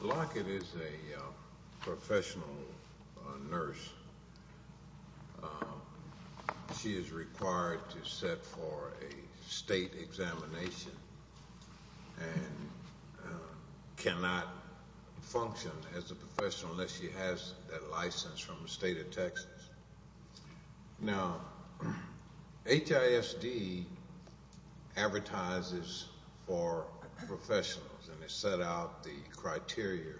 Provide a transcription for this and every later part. Lockett is a professional nurse. She is required to set for a state examination and cannot function as a professional unless she has that license from the state of Texas. Now HISD advertises for professionals and they set out the criteria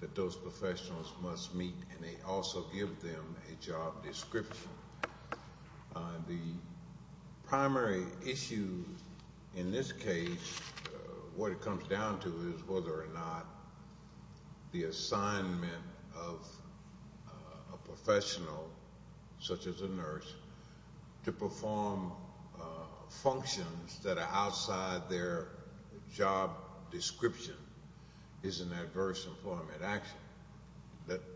that those professionals must meet and they also give them a job description. The primary issue in this case, what it comes down to is whether or not the assignment of a professional such as a nurse to perform functions that are outside their job description is an adverse employment action.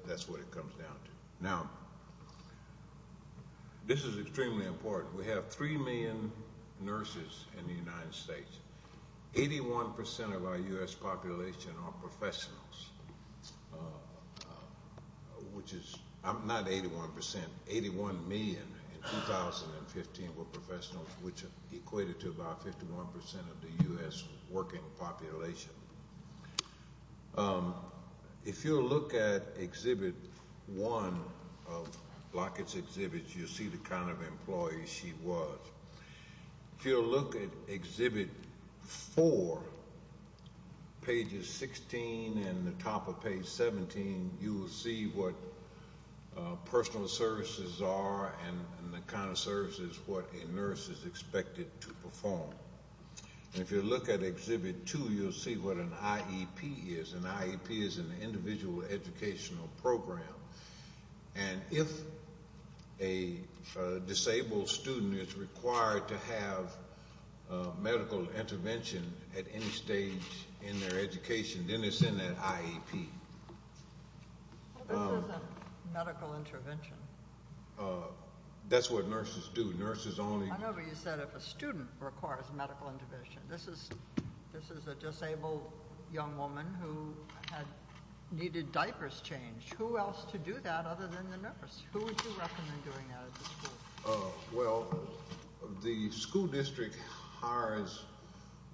That's what it comes down to. Now this is extremely important. We have 3 million nurses in the United States. 81% of our U.S. population are professionals, which is, not 81%, 81 million in 2015 were professionals which equated to about 51% of the U.S. working population. If you'll look at Exhibit 1 of Lockett's exhibit, you'll see the kind of employee she was. If you'll look at Exhibit 4, pages 16 and the top of page 17, you will see what personal services are and the kind of services what a nurse is expected to perform. If you'll look at Exhibit 2, you'll see what an IEP is. An IEP is an Individual Educational Program and if a disabled student is required to have medical intervention at any stage in their education, then it's in that IEP. This isn't medical intervention. That's what nurses do. Nurses only… I remember you said if a student requires medical intervention. This is a disabled young woman who needed diapers changed. Who else to do that other than the nurse? Who would you recommend doing that at the school? Well, the school district hires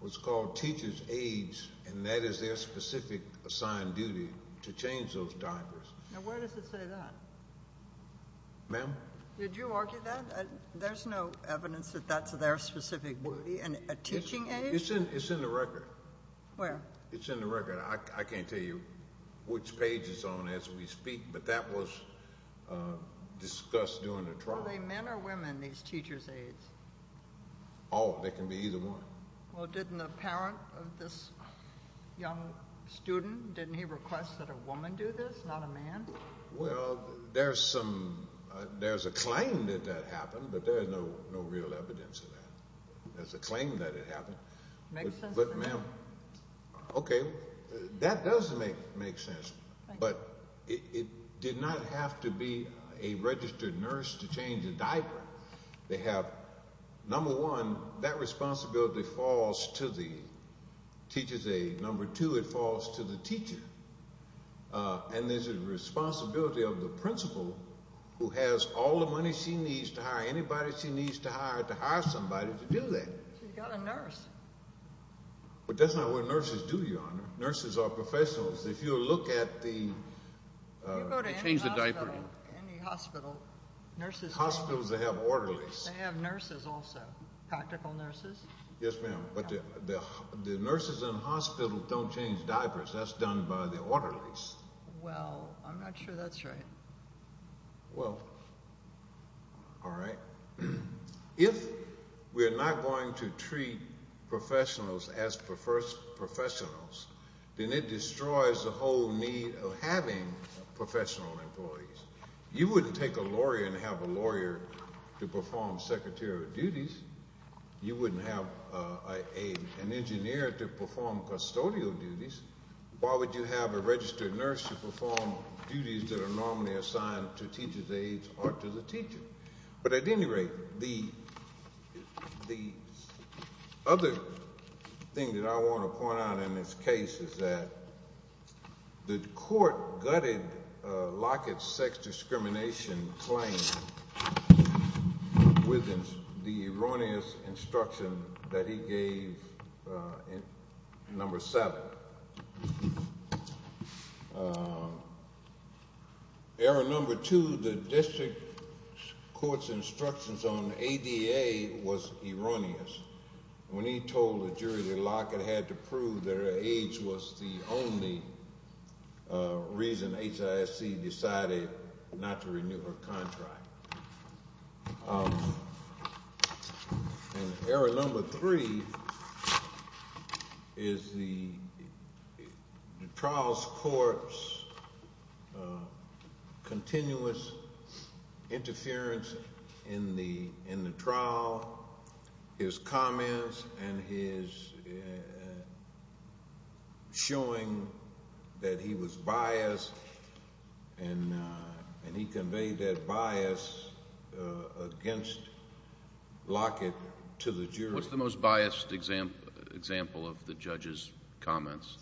what's called teacher's aides and that is their specific assigned duty to change those diapers. Now where does it say that? Ma'am? Did you argue that? There's no evidence that that's their specific duty. A teaching aide? It's in the record. Where? It's in the record. I can't tell you which page it's on as we speak, but that was discussed during the trial. Are they men or women, these teacher's aides? Oh, they can be either one. Well, didn't the parent of this young student, didn't he request that a woman do this, not a man? Well, there's a claim that that happened, but there's no real evidence of that. There's a claim that it happened. Makes sense. Okay, that does make sense, but it did not have to be a registered nurse to change a diaper. They have, number one, that responsibility falls to the teacher's aide. Number two, it falls to the teacher. And there's a responsibility of the principal who has all the money she needs to hire anybody she needs to hire to hire somebody to do that. She's got a nurse. But that's not what nurses do, Your Honor. Nurses are professionals. If you look at the… You go to any hospital, nurses… Hospitals, they have orderlies. They have nurses also, practical nurses. Yes, ma'am, but the nurses in hospitals don't change diapers. That's done by the orderlies. Well, I'm not sure that's right. Well, all right. If we're not going to treat professionals as professionals, then it destroys the whole need of having professional employees. You wouldn't take a lawyer and have a lawyer to perform secretarial duties. You wouldn't have an engineer to perform custodial duties. Why would you have a registered nurse to perform duties that are normally assigned to teachers' aides or to the teacher? But at any rate, the other thing that I want to point out in this case is that the court gutted Lockett's sex discrimination claim with the erroneous instruction that he gave number seven. Error number two, the district court's instructions on ADA was erroneous. When he told the jury that Lockett had to prove that her age was the only reason HISC decided not to renew her contract. And error number three is the trial's court's continuous interference in the trial, his comments, and his showing that he was biased. And he conveyed that bias against Lockett to the jury. What's the most biased example of the judge's comments?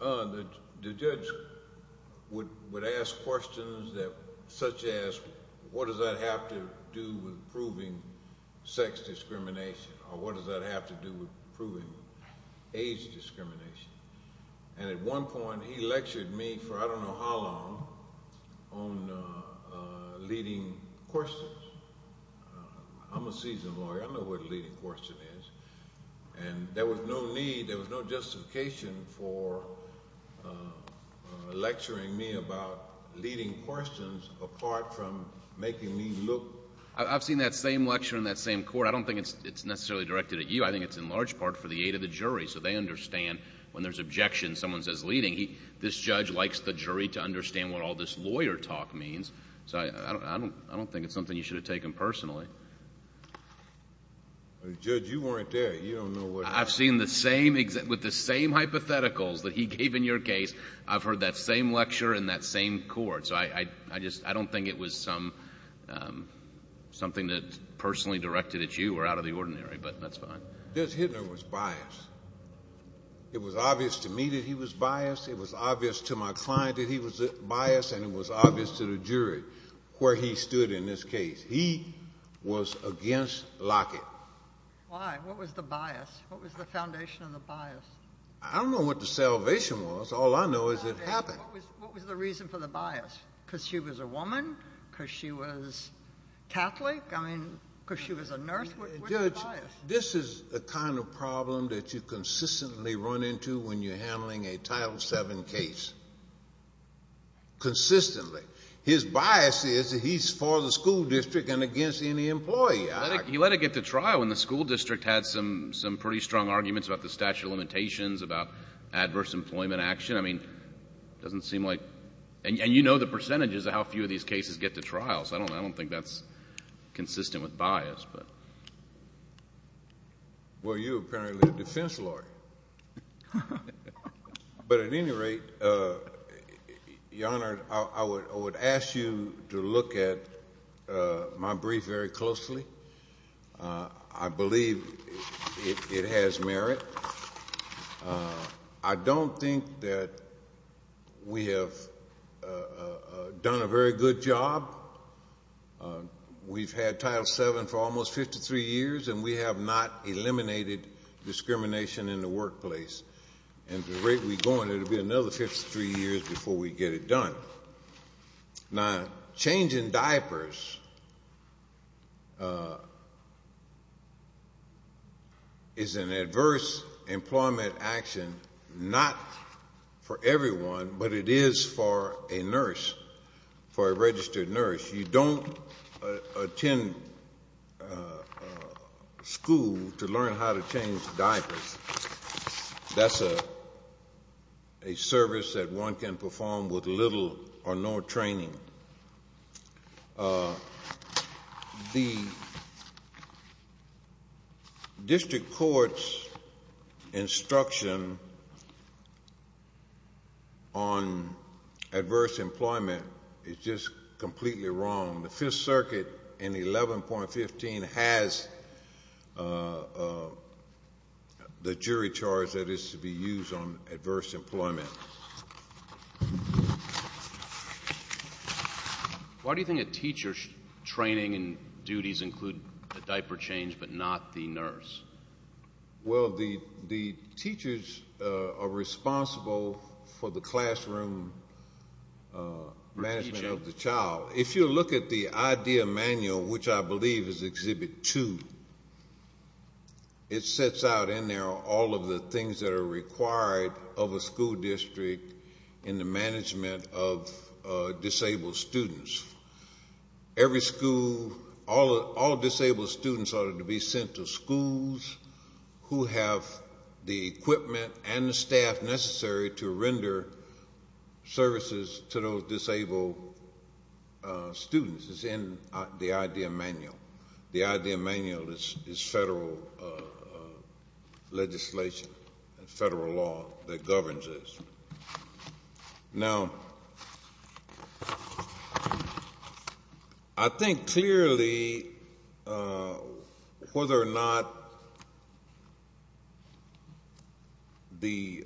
The judge would ask questions such as what does that have to do with proving sex discrimination or what does that have to do with proving age discrimination? And at one point, he lectured me for I don't know how long on leading questions. I'm a seasoned lawyer. I know what a leading question is. And there was no need, there was no justification for lecturing me about leading questions apart from making me look. I've seen that same lecture in that same court. I don't think it's necessarily directed at you. I think it's in large part for the aid of the jury so they understand when there's objection, someone says leading. This judge likes the jury to understand what all this lawyer talk means. So I don't think it's something you should have taken personally. Judge, you weren't there. You don't know what— I've seen the same, with the same hypotheticals that he gave in your case. I've heard that same lecture in that same court. So I don't think it was something that's personally directed at you or out of the ordinary, but that's fine. Judge Hittner was biased. It was obvious to me that he was biased. It was obvious to my client that he was biased, and it was obvious to the jury where he stood in this case. He was against Lockett. Why? What was the bias? What was the foundation of the bias? I don't know what the salvation was. All I know is it happened. What was the reason for the bias? Because she was a woman? Because she was Catholic? I mean, because she was a nurse? What's the bias? Judge, this is the kind of problem that you consistently run into when you're handling a Title VII case. Consistently. His bias is that he's for the school district and against any employee. He let it get to trial when the school district had some pretty strong arguments about the statute of limitations, about adverse employment action. I mean, it doesn't seem like—and you know the percentages of how few of these cases get to trial, so I don't think that's consistent with bias. Well, you're apparently a defense lawyer. But at any rate, Your Honor, I would ask you to look at my brief very closely. I believe it has merit. I don't think that we have done a very good job. We've had Title VII for almost 53 years, and we have not eliminated discrimination in the workplace. And the rate we're going, it will be another 53 years before we get it done. Now, changing diapers is an adverse employment action not for everyone, but it is for a nurse, for a registered nurse. You don't attend school to learn how to change diapers. That's a service that one can perform with little or no training. The district court's instruction on adverse employment is just completely wrong. The Fifth Circuit in 11.15 has the jury charge that is to be used on adverse employment. Why do you think a teacher's training and duties include the diaper change but not the nurse? Well, the teachers are responsible for the classroom management of the child. If you look at the idea manual, which I believe is Exhibit 2, it sets out in there all of the things that are required of a school district in the management of disabled students. Every school, all disabled students ought to be sent to schools who have the equipment and the staff necessary to render services to those disabled students. It's in the idea manual. The idea manual is federal legislation, federal law that governs this. Now, I think clearly whether or not the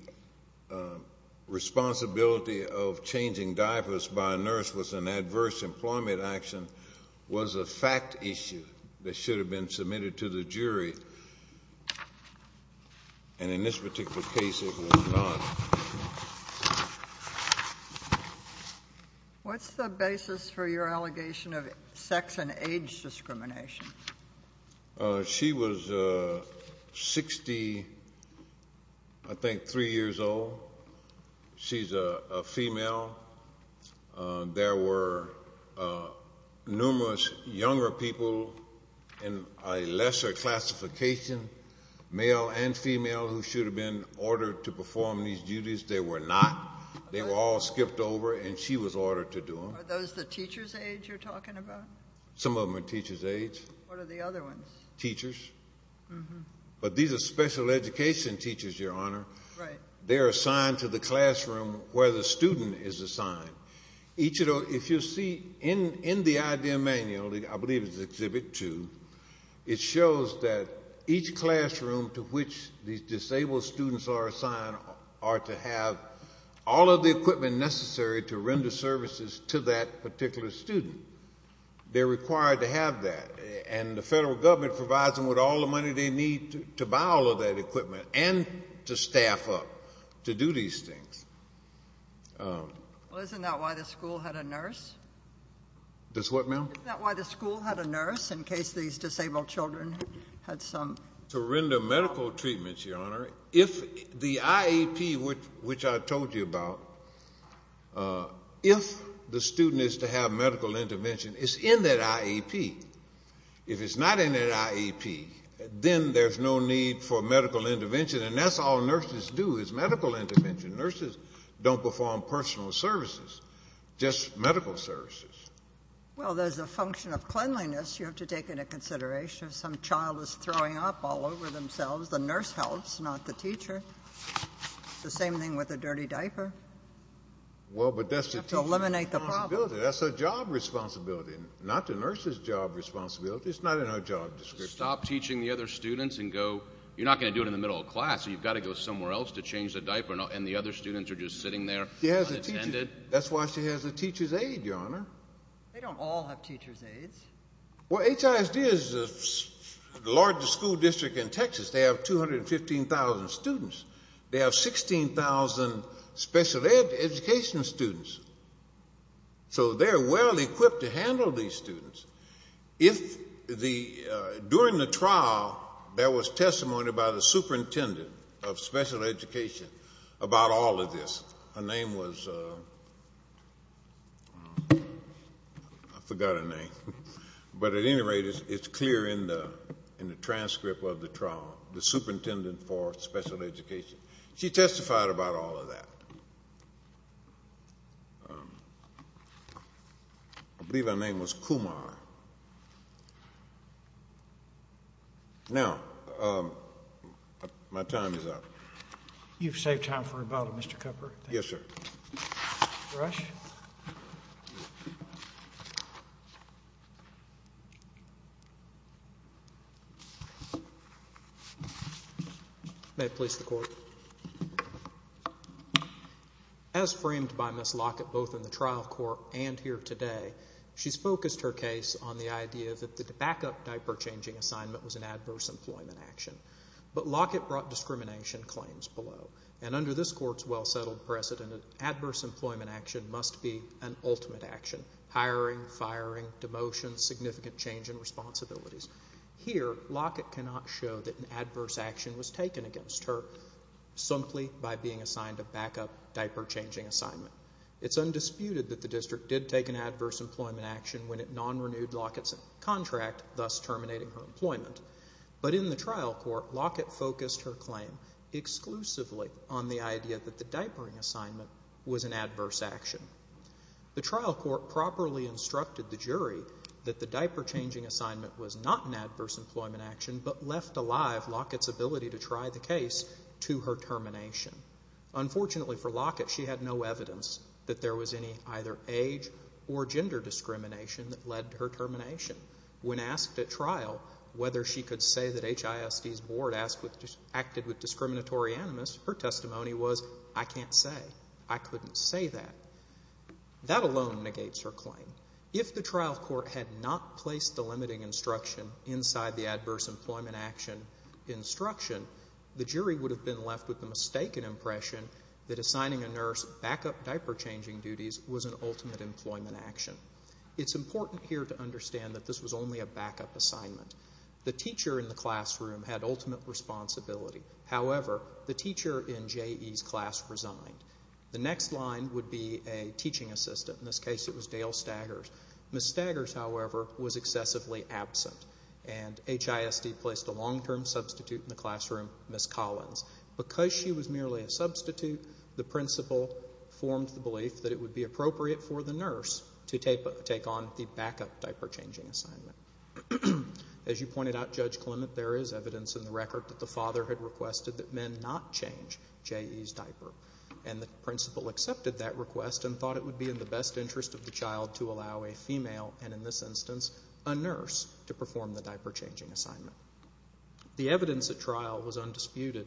responsibility of changing diapers by a nurse was an adverse employment action was a fact issue that should have been submitted to the jury, and in this particular case it was not. What's the basis for your allegation of sex and age discrimination? She was 60, I think, three years old. She's a female. There were numerous younger people in a lesser classification, male and female, who should have been ordered to perform these duties. They were not. They were all skipped over, and she was ordered to do them. Are those the teacher's age you're talking about? Some of them are teacher's age. What are the other ones? Teachers. But these are special education teachers, Your Honor. Right. They're assigned to the classroom where the student is assigned. If you see in the idea manual, I believe it's Exhibit 2, it shows that each classroom to which these disabled students are assigned are to have all of the equipment necessary to render services to that particular student. They're required to have that, and the federal government provides them with all the money they need to buy all of that equipment and to staff up to do these things. Well, isn't that why the school had a nurse? That's what, ma'am? Isn't that why the school had a nurse in case these disabled children had some? To render medical treatments, Your Honor. If the IEP, which I told you about, if the student is to have medical intervention, it's in that IEP. If it's not in that IEP, then there's no need for medical intervention, and that's all nurses do is medical intervention. Nurses don't perform personal services, just medical services. Well, there's a function of cleanliness you have to take into consideration. If some child is throwing up all over themselves, the nurse helps, not the teacher. It's the same thing with a dirty diaper. Well, but that's the teacher's responsibility. You have to eliminate the problem. That's her job responsibility, not the nurse's job responsibility. It's not in her job description. Stop teaching the other students and go... You're not going to do it in the middle of class, so you've got to go somewhere else to change the diaper, and the other students are just sitting there unattended. That's why she has a teacher's aide, Your Honor. They don't all have teacher's aides. Well, HISD is the largest school district in Texas. They have 215,000 students. They have 16,000 special education students. So they're well-equipped to handle these students. During the trial, there was testimony by the superintendent of special education about all of this. Her name was... I forgot her name. But at any rate, it's clear in the transcript of the trial, the superintendent for special education. She testified about all of that. I believe her name was Kumar. Now, my time is up. You've saved time for rebuttal, Mr. Cooper. Yes, sir. Rush. May it please the Court. As framed by Ms. Lockett both in the trial court and here today, she's focused her case on the idea that the backup diaper-changing assignment was an adverse employment action. But Lockett brought discrimination claims below. And under this Court's well-settled precedent, adverse employment action must be an ultimate action. Hiring, firing, demotion, significant change in responsibilities. Here, Lockett cannot show that an adverse action was taken against her simply by being assigned a backup diaper-changing assignment. It's undisputed that the district did take an adverse employment action when it non-renewed Lockett's contract, thus terminating her employment. But in the trial court, Lockett focused her claim exclusively on the idea that the diapering assignment was an adverse action. The trial court properly instructed the jury that the diaper-changing assignment was not an adverse employment action, but left alive Lockett's ability to try the case to her termination. Unfortunately for Lockett, she had no evidence that there was any either age or gender discrimination that led to her termination. When asked at trial whether she could say that HISD's board acted with discriminatory animus, her testimony was, I can't say. I couldn't say that. That alone negates her claim. If the trial court had not placed the limiting instruction inside the adverse employment action instruction, the jury would have been left with the mistaken impression that assigning a nurse backup diaper-changing duties was an ultimate employment action. It's important here to understand that this was only a backup assignment. The teacher in the classroom had ultimate responsibility. However, the teacher in JE's class resigned. The next line would be a teaching assistant. In this case, it was Dale Staggers. Ms. Staggers, however, was excessively absent, and HISD placed a long-term substitute in the classroom, Ms. Collins. Because she was merely a substitute, the principal formed the belief that it would be appropriate for the nurse to take on the backup diaper-changing assignment. As you pointed out, Judge Clement, there is evidence in the record that the father had requested that men not change JE's diaper, and the principal accepted that request and thought it would be in the best interest of the child to allow a female, and in this instance a nurse, to perform the diaper-changing assignment. The evidence at trial was undisputed,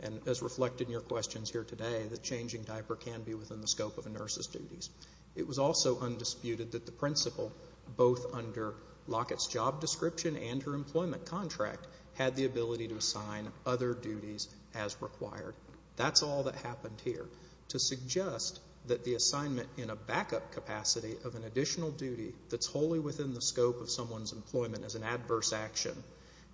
and as reflected in your questions here today, that changing diaper can be within the scope of a nurse's duties. It was also undisputed that the principal, both under Lockett's job description and her employment contract, had the ability to assign other duties as required. That's all that happened here. To suggest that the assignment in a backup capacity of an additional duty that's wholly within the scope of someone's employment as an adverse action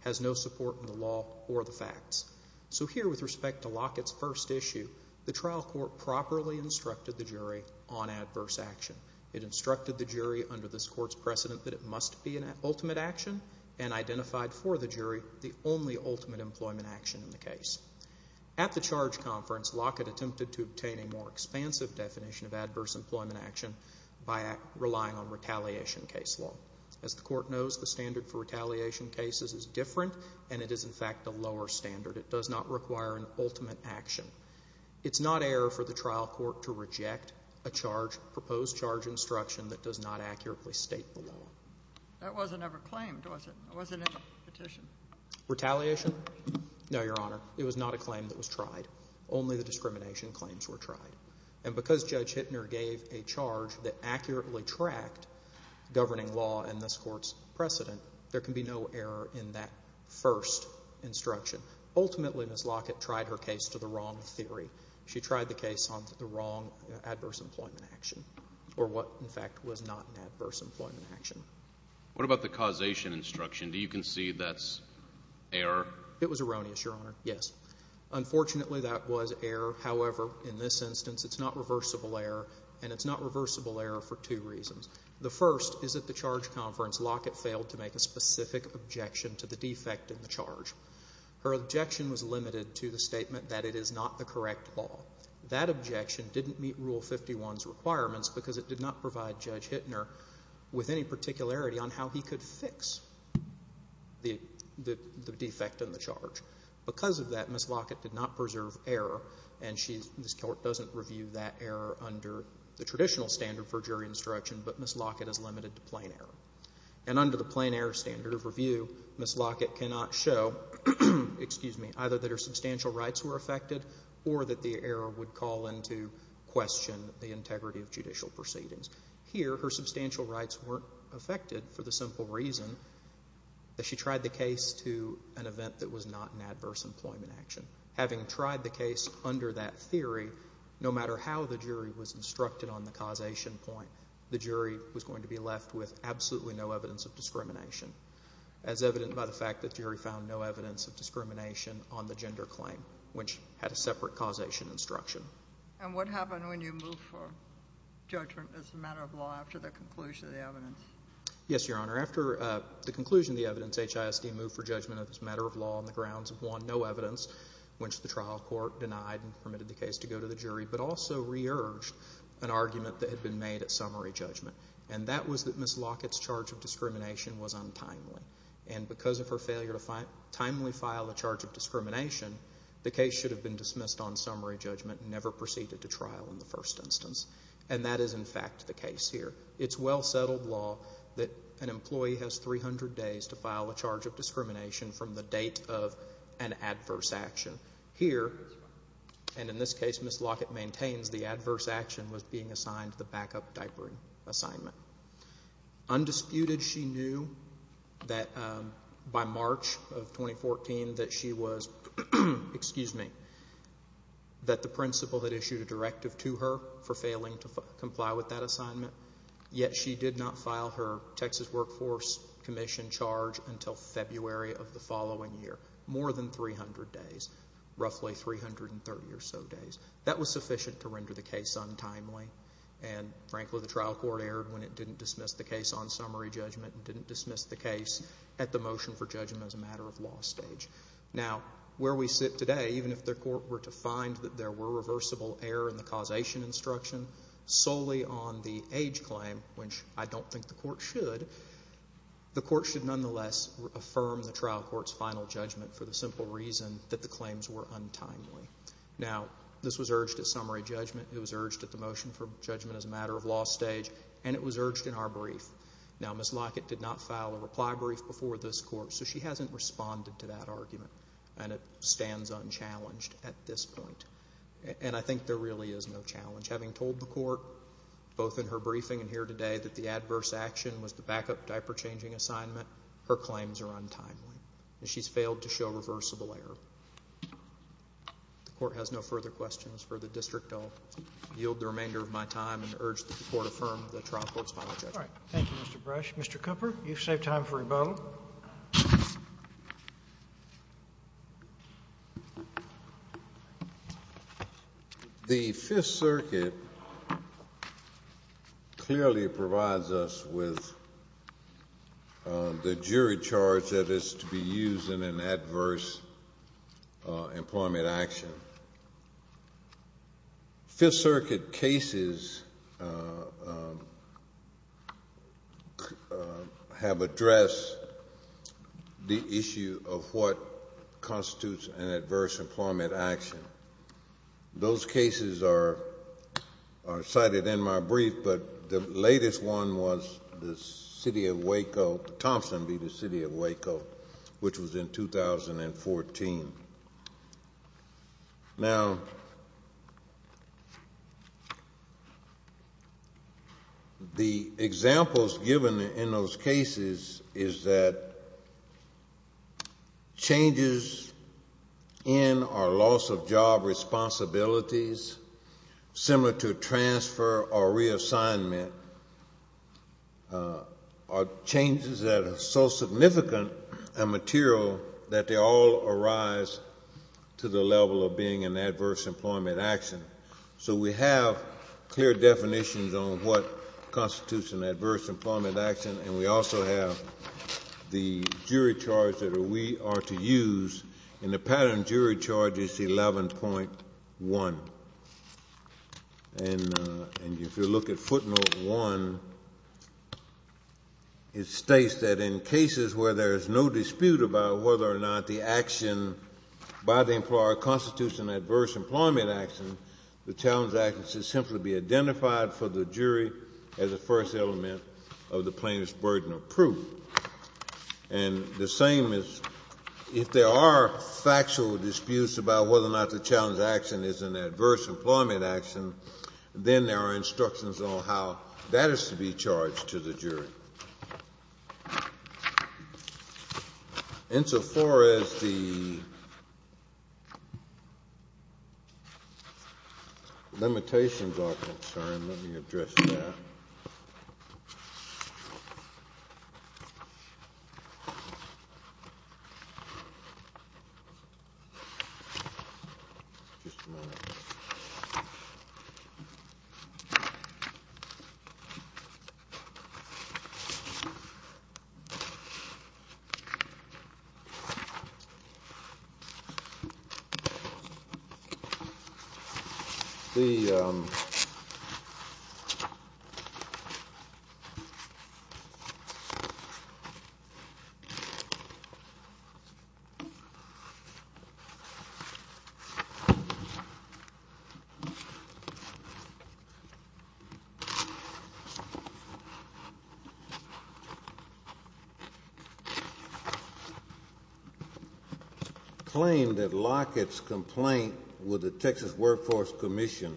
has no support in the law or the facts. So here, with respect to Lockett's first issue, the trial court properly instructed the jury on adverse action. It instructed the jury under this court's precedent that it must be an ultimate action and identified for the jury the only ultimate employment action in the case. At the charge conference, Lockett attempted to obtain a more expansive definition of adverse employment action by relying on retaliation case law. As the court knows, the standard for retaliation cases is different, and it is, in fact, a lower standard. It does not require an ultimate action. It's not error for the trial court to reject a proposed charge instruction that does not accurately state the law. That wasn't ever claimed, was it? It wasn't in the petition. Retaliation? No, Your Honor. It was not a claim that was tried. Only the discrimination claims were tried. And because Judge Hittner gave a charge that accurately tracked governing law and this court's precedent, there can be no error in that first instruction. Ultimately, Ms. Lockett tried her case to the wrong theory. She tried the case on the wrong adverse employment action or what, in fact, was not an adverse employment action. What about the causation instruction? Do you concede that's error? It was erroneous, Your Honor, yes. Unfortunately, that was error. However, in this instance, it's not reversible error, and it's not reversible error for two reasons. The first is at the charge conference, Lockett failed to make a specific objection to the defect in the charge. Her objection was limited to the statement that it is not the correct law. That objection didn't meet Rule 51's requirements because it did not provide Judge Hittner with any particularity on how he could fix the defect in the charge. Because of that, Ms. Lockett did not preserve error, and this court doesn't review that error under the traditional standard for jury instruction, but Ms. Lockett is limited to plain error. And under the plain error standard of review, Ms. Lockett cannot show either that her substantial rights were affected or that the error would call into question the integrity of judicial proceedings. Here, her substantial rights weren't affected for the simple reason that she tried the case to an event that was not an adverse employment action. Having tried the case under that theory, no matter how the jury was instructed on the causation point, the jury was going to be left with absolutely no evidence of discrimination, as evident by the fact that the jury found no evidence of discrimination on the gender claim, which had a separate causation instruction. And what happened when you moved for judgment as a matter of law after the conclusion of the evidence? Yes, Your Honor. After the conclusion of the evidence, HISD moved for judgment as a matter of law on the grounds of one, no evidence, which the trial court denied and permitted the case to go to the jury, but also re-urged an argument that had been made at summary judgment, and that was that Ms. Lockett's charge of discrimination was untimely. And because of her failure to timely file a charge of discrimination, the case should have been dismissed on summary judgment and never proceeded to trial in the first instance. And that is, in fact, the case here. It's well-settled law that an employee has 300 days to file a charge of discrimination from the date of an adverse action. Here, and in this case Ms. Lockett maintains, the adverse action was being assigned the backup diapering assignment. Undisputed, she knew that by March of 2014 that she was, excuse me, that the principal had issued a directive to her for failing to comply with that assignment, yet she did not file her Texas Workforce Commission charge until February of the following year. More than 300 days. Roughly 330 or so days. That was sufficient to render the case untimely, and frankly the trial court erred when it didn't dismiss the case on summary judgment and didn't dismiss the case at the motion for judgment as a matter of law stage. Now, where we sit today, even if the court were to find that there were reversible error in the causation instruction solely on the age claim, which I don't think the court should, the court should nonetheless affirm the trial court's final judgment for the simple reason that the claims were untimely. Now, this was urged at summary judgment, it was urged at the motion for judgment as a matter of law stage, and it was urged in our brief. Now, Ms. Lockett did not file a reply brief before this court, so she hasn't responded to that argument, and it stands unchallenged at this point. And I think there really is no challenge. Having told the court, both in her briefing and here today, that the adverse action was the backup diaper-changing assignment, her claims are untimely. She's failed to show reversible error. The court has no further questions. For the district, I'll yield the remainder of my time and urge that the court affirm the trial court's final judgment. All right. Thank you, Mr. Brush. Mr. Cooper, you've saved time for rebuttal. Well, the Fifth Circuit clearly provides us with the jury charge that is to be used in an adverse employment action. Fifth Circuit cases have addressed the issue of what constitutes an adverse employment action. Those cases are cited in my brief, but the latest one was the city of Waco, Thompson v. the city of Waco, which was in 2014. Now, the examples given in those cases is that changes in or loss of job responsibilities, similar to transfer or reassignment, are changes that are so significant and material that they all arise to the level of being an adverse employment action. So we have clear definitions on what constitutes an adverse employment action, and we also have the jury charge that we are to use, and the pattern jury charge is 11.1. And if you look at footnote one, it states that in cases where there is no dispute about whether or not the action by the employer constitutes an adverse employment action, the challenge action should simply be identified for the jury as the first element of the plaintiff's burden of proof. And the same is if there are factual disputes about whether or not the challenge action is an adverse employment action, then there are instructions on how that is to be charged to the jury. Insofar as the limitations are concerned, let me address that. Just a minute. Okay. Claim that Lockett's complaint with the Texas Workforce Commission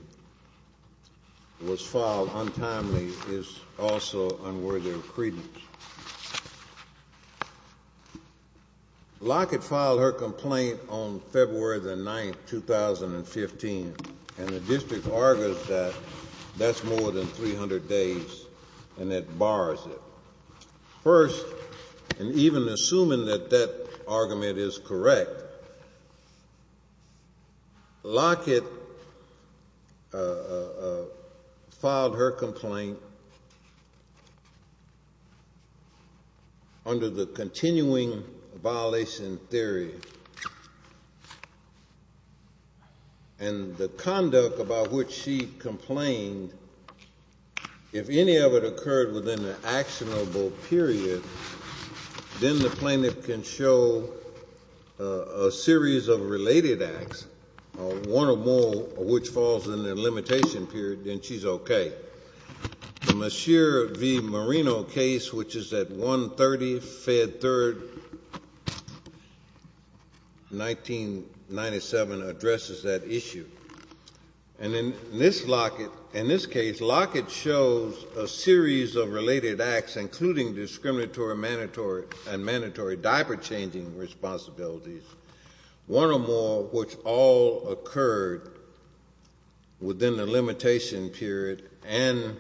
was filed untimely is also unworthy of credence. Lockett filed her complaint on February 9, 2015, and the district argues that that's more than 300 days, and it bars it. First, and even assuming that that argument is correct, Lockett filed her complaint under the continuing violation theory, and the conduct about which she complained, if any of it occurred within an actionable period, then the plaintiff can show a series of related acts, one or more of which falls in the limitation period, then she's okay. The Mashir v. Marino case, which is at 1-30, Fed 3rd, 1997, addresses that issue. And in this case, Lockett shows a series of related acts, including discriminatory and mandatory diaper-changing responsibilities, one or more of which all occurred within the limitation period and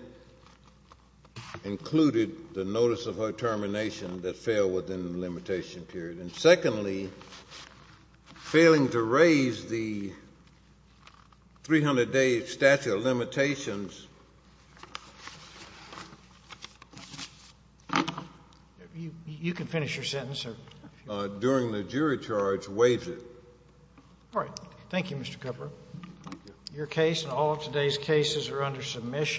included the notice of her termination that fell within the limitation period. And secondly, failing to raise the 300-day statute of limitations You can finish your sentence. During the jury charge, wage it. All right. Thank you, Mr. Kupfer. Thank you. Your case and all of today's cases are under submission.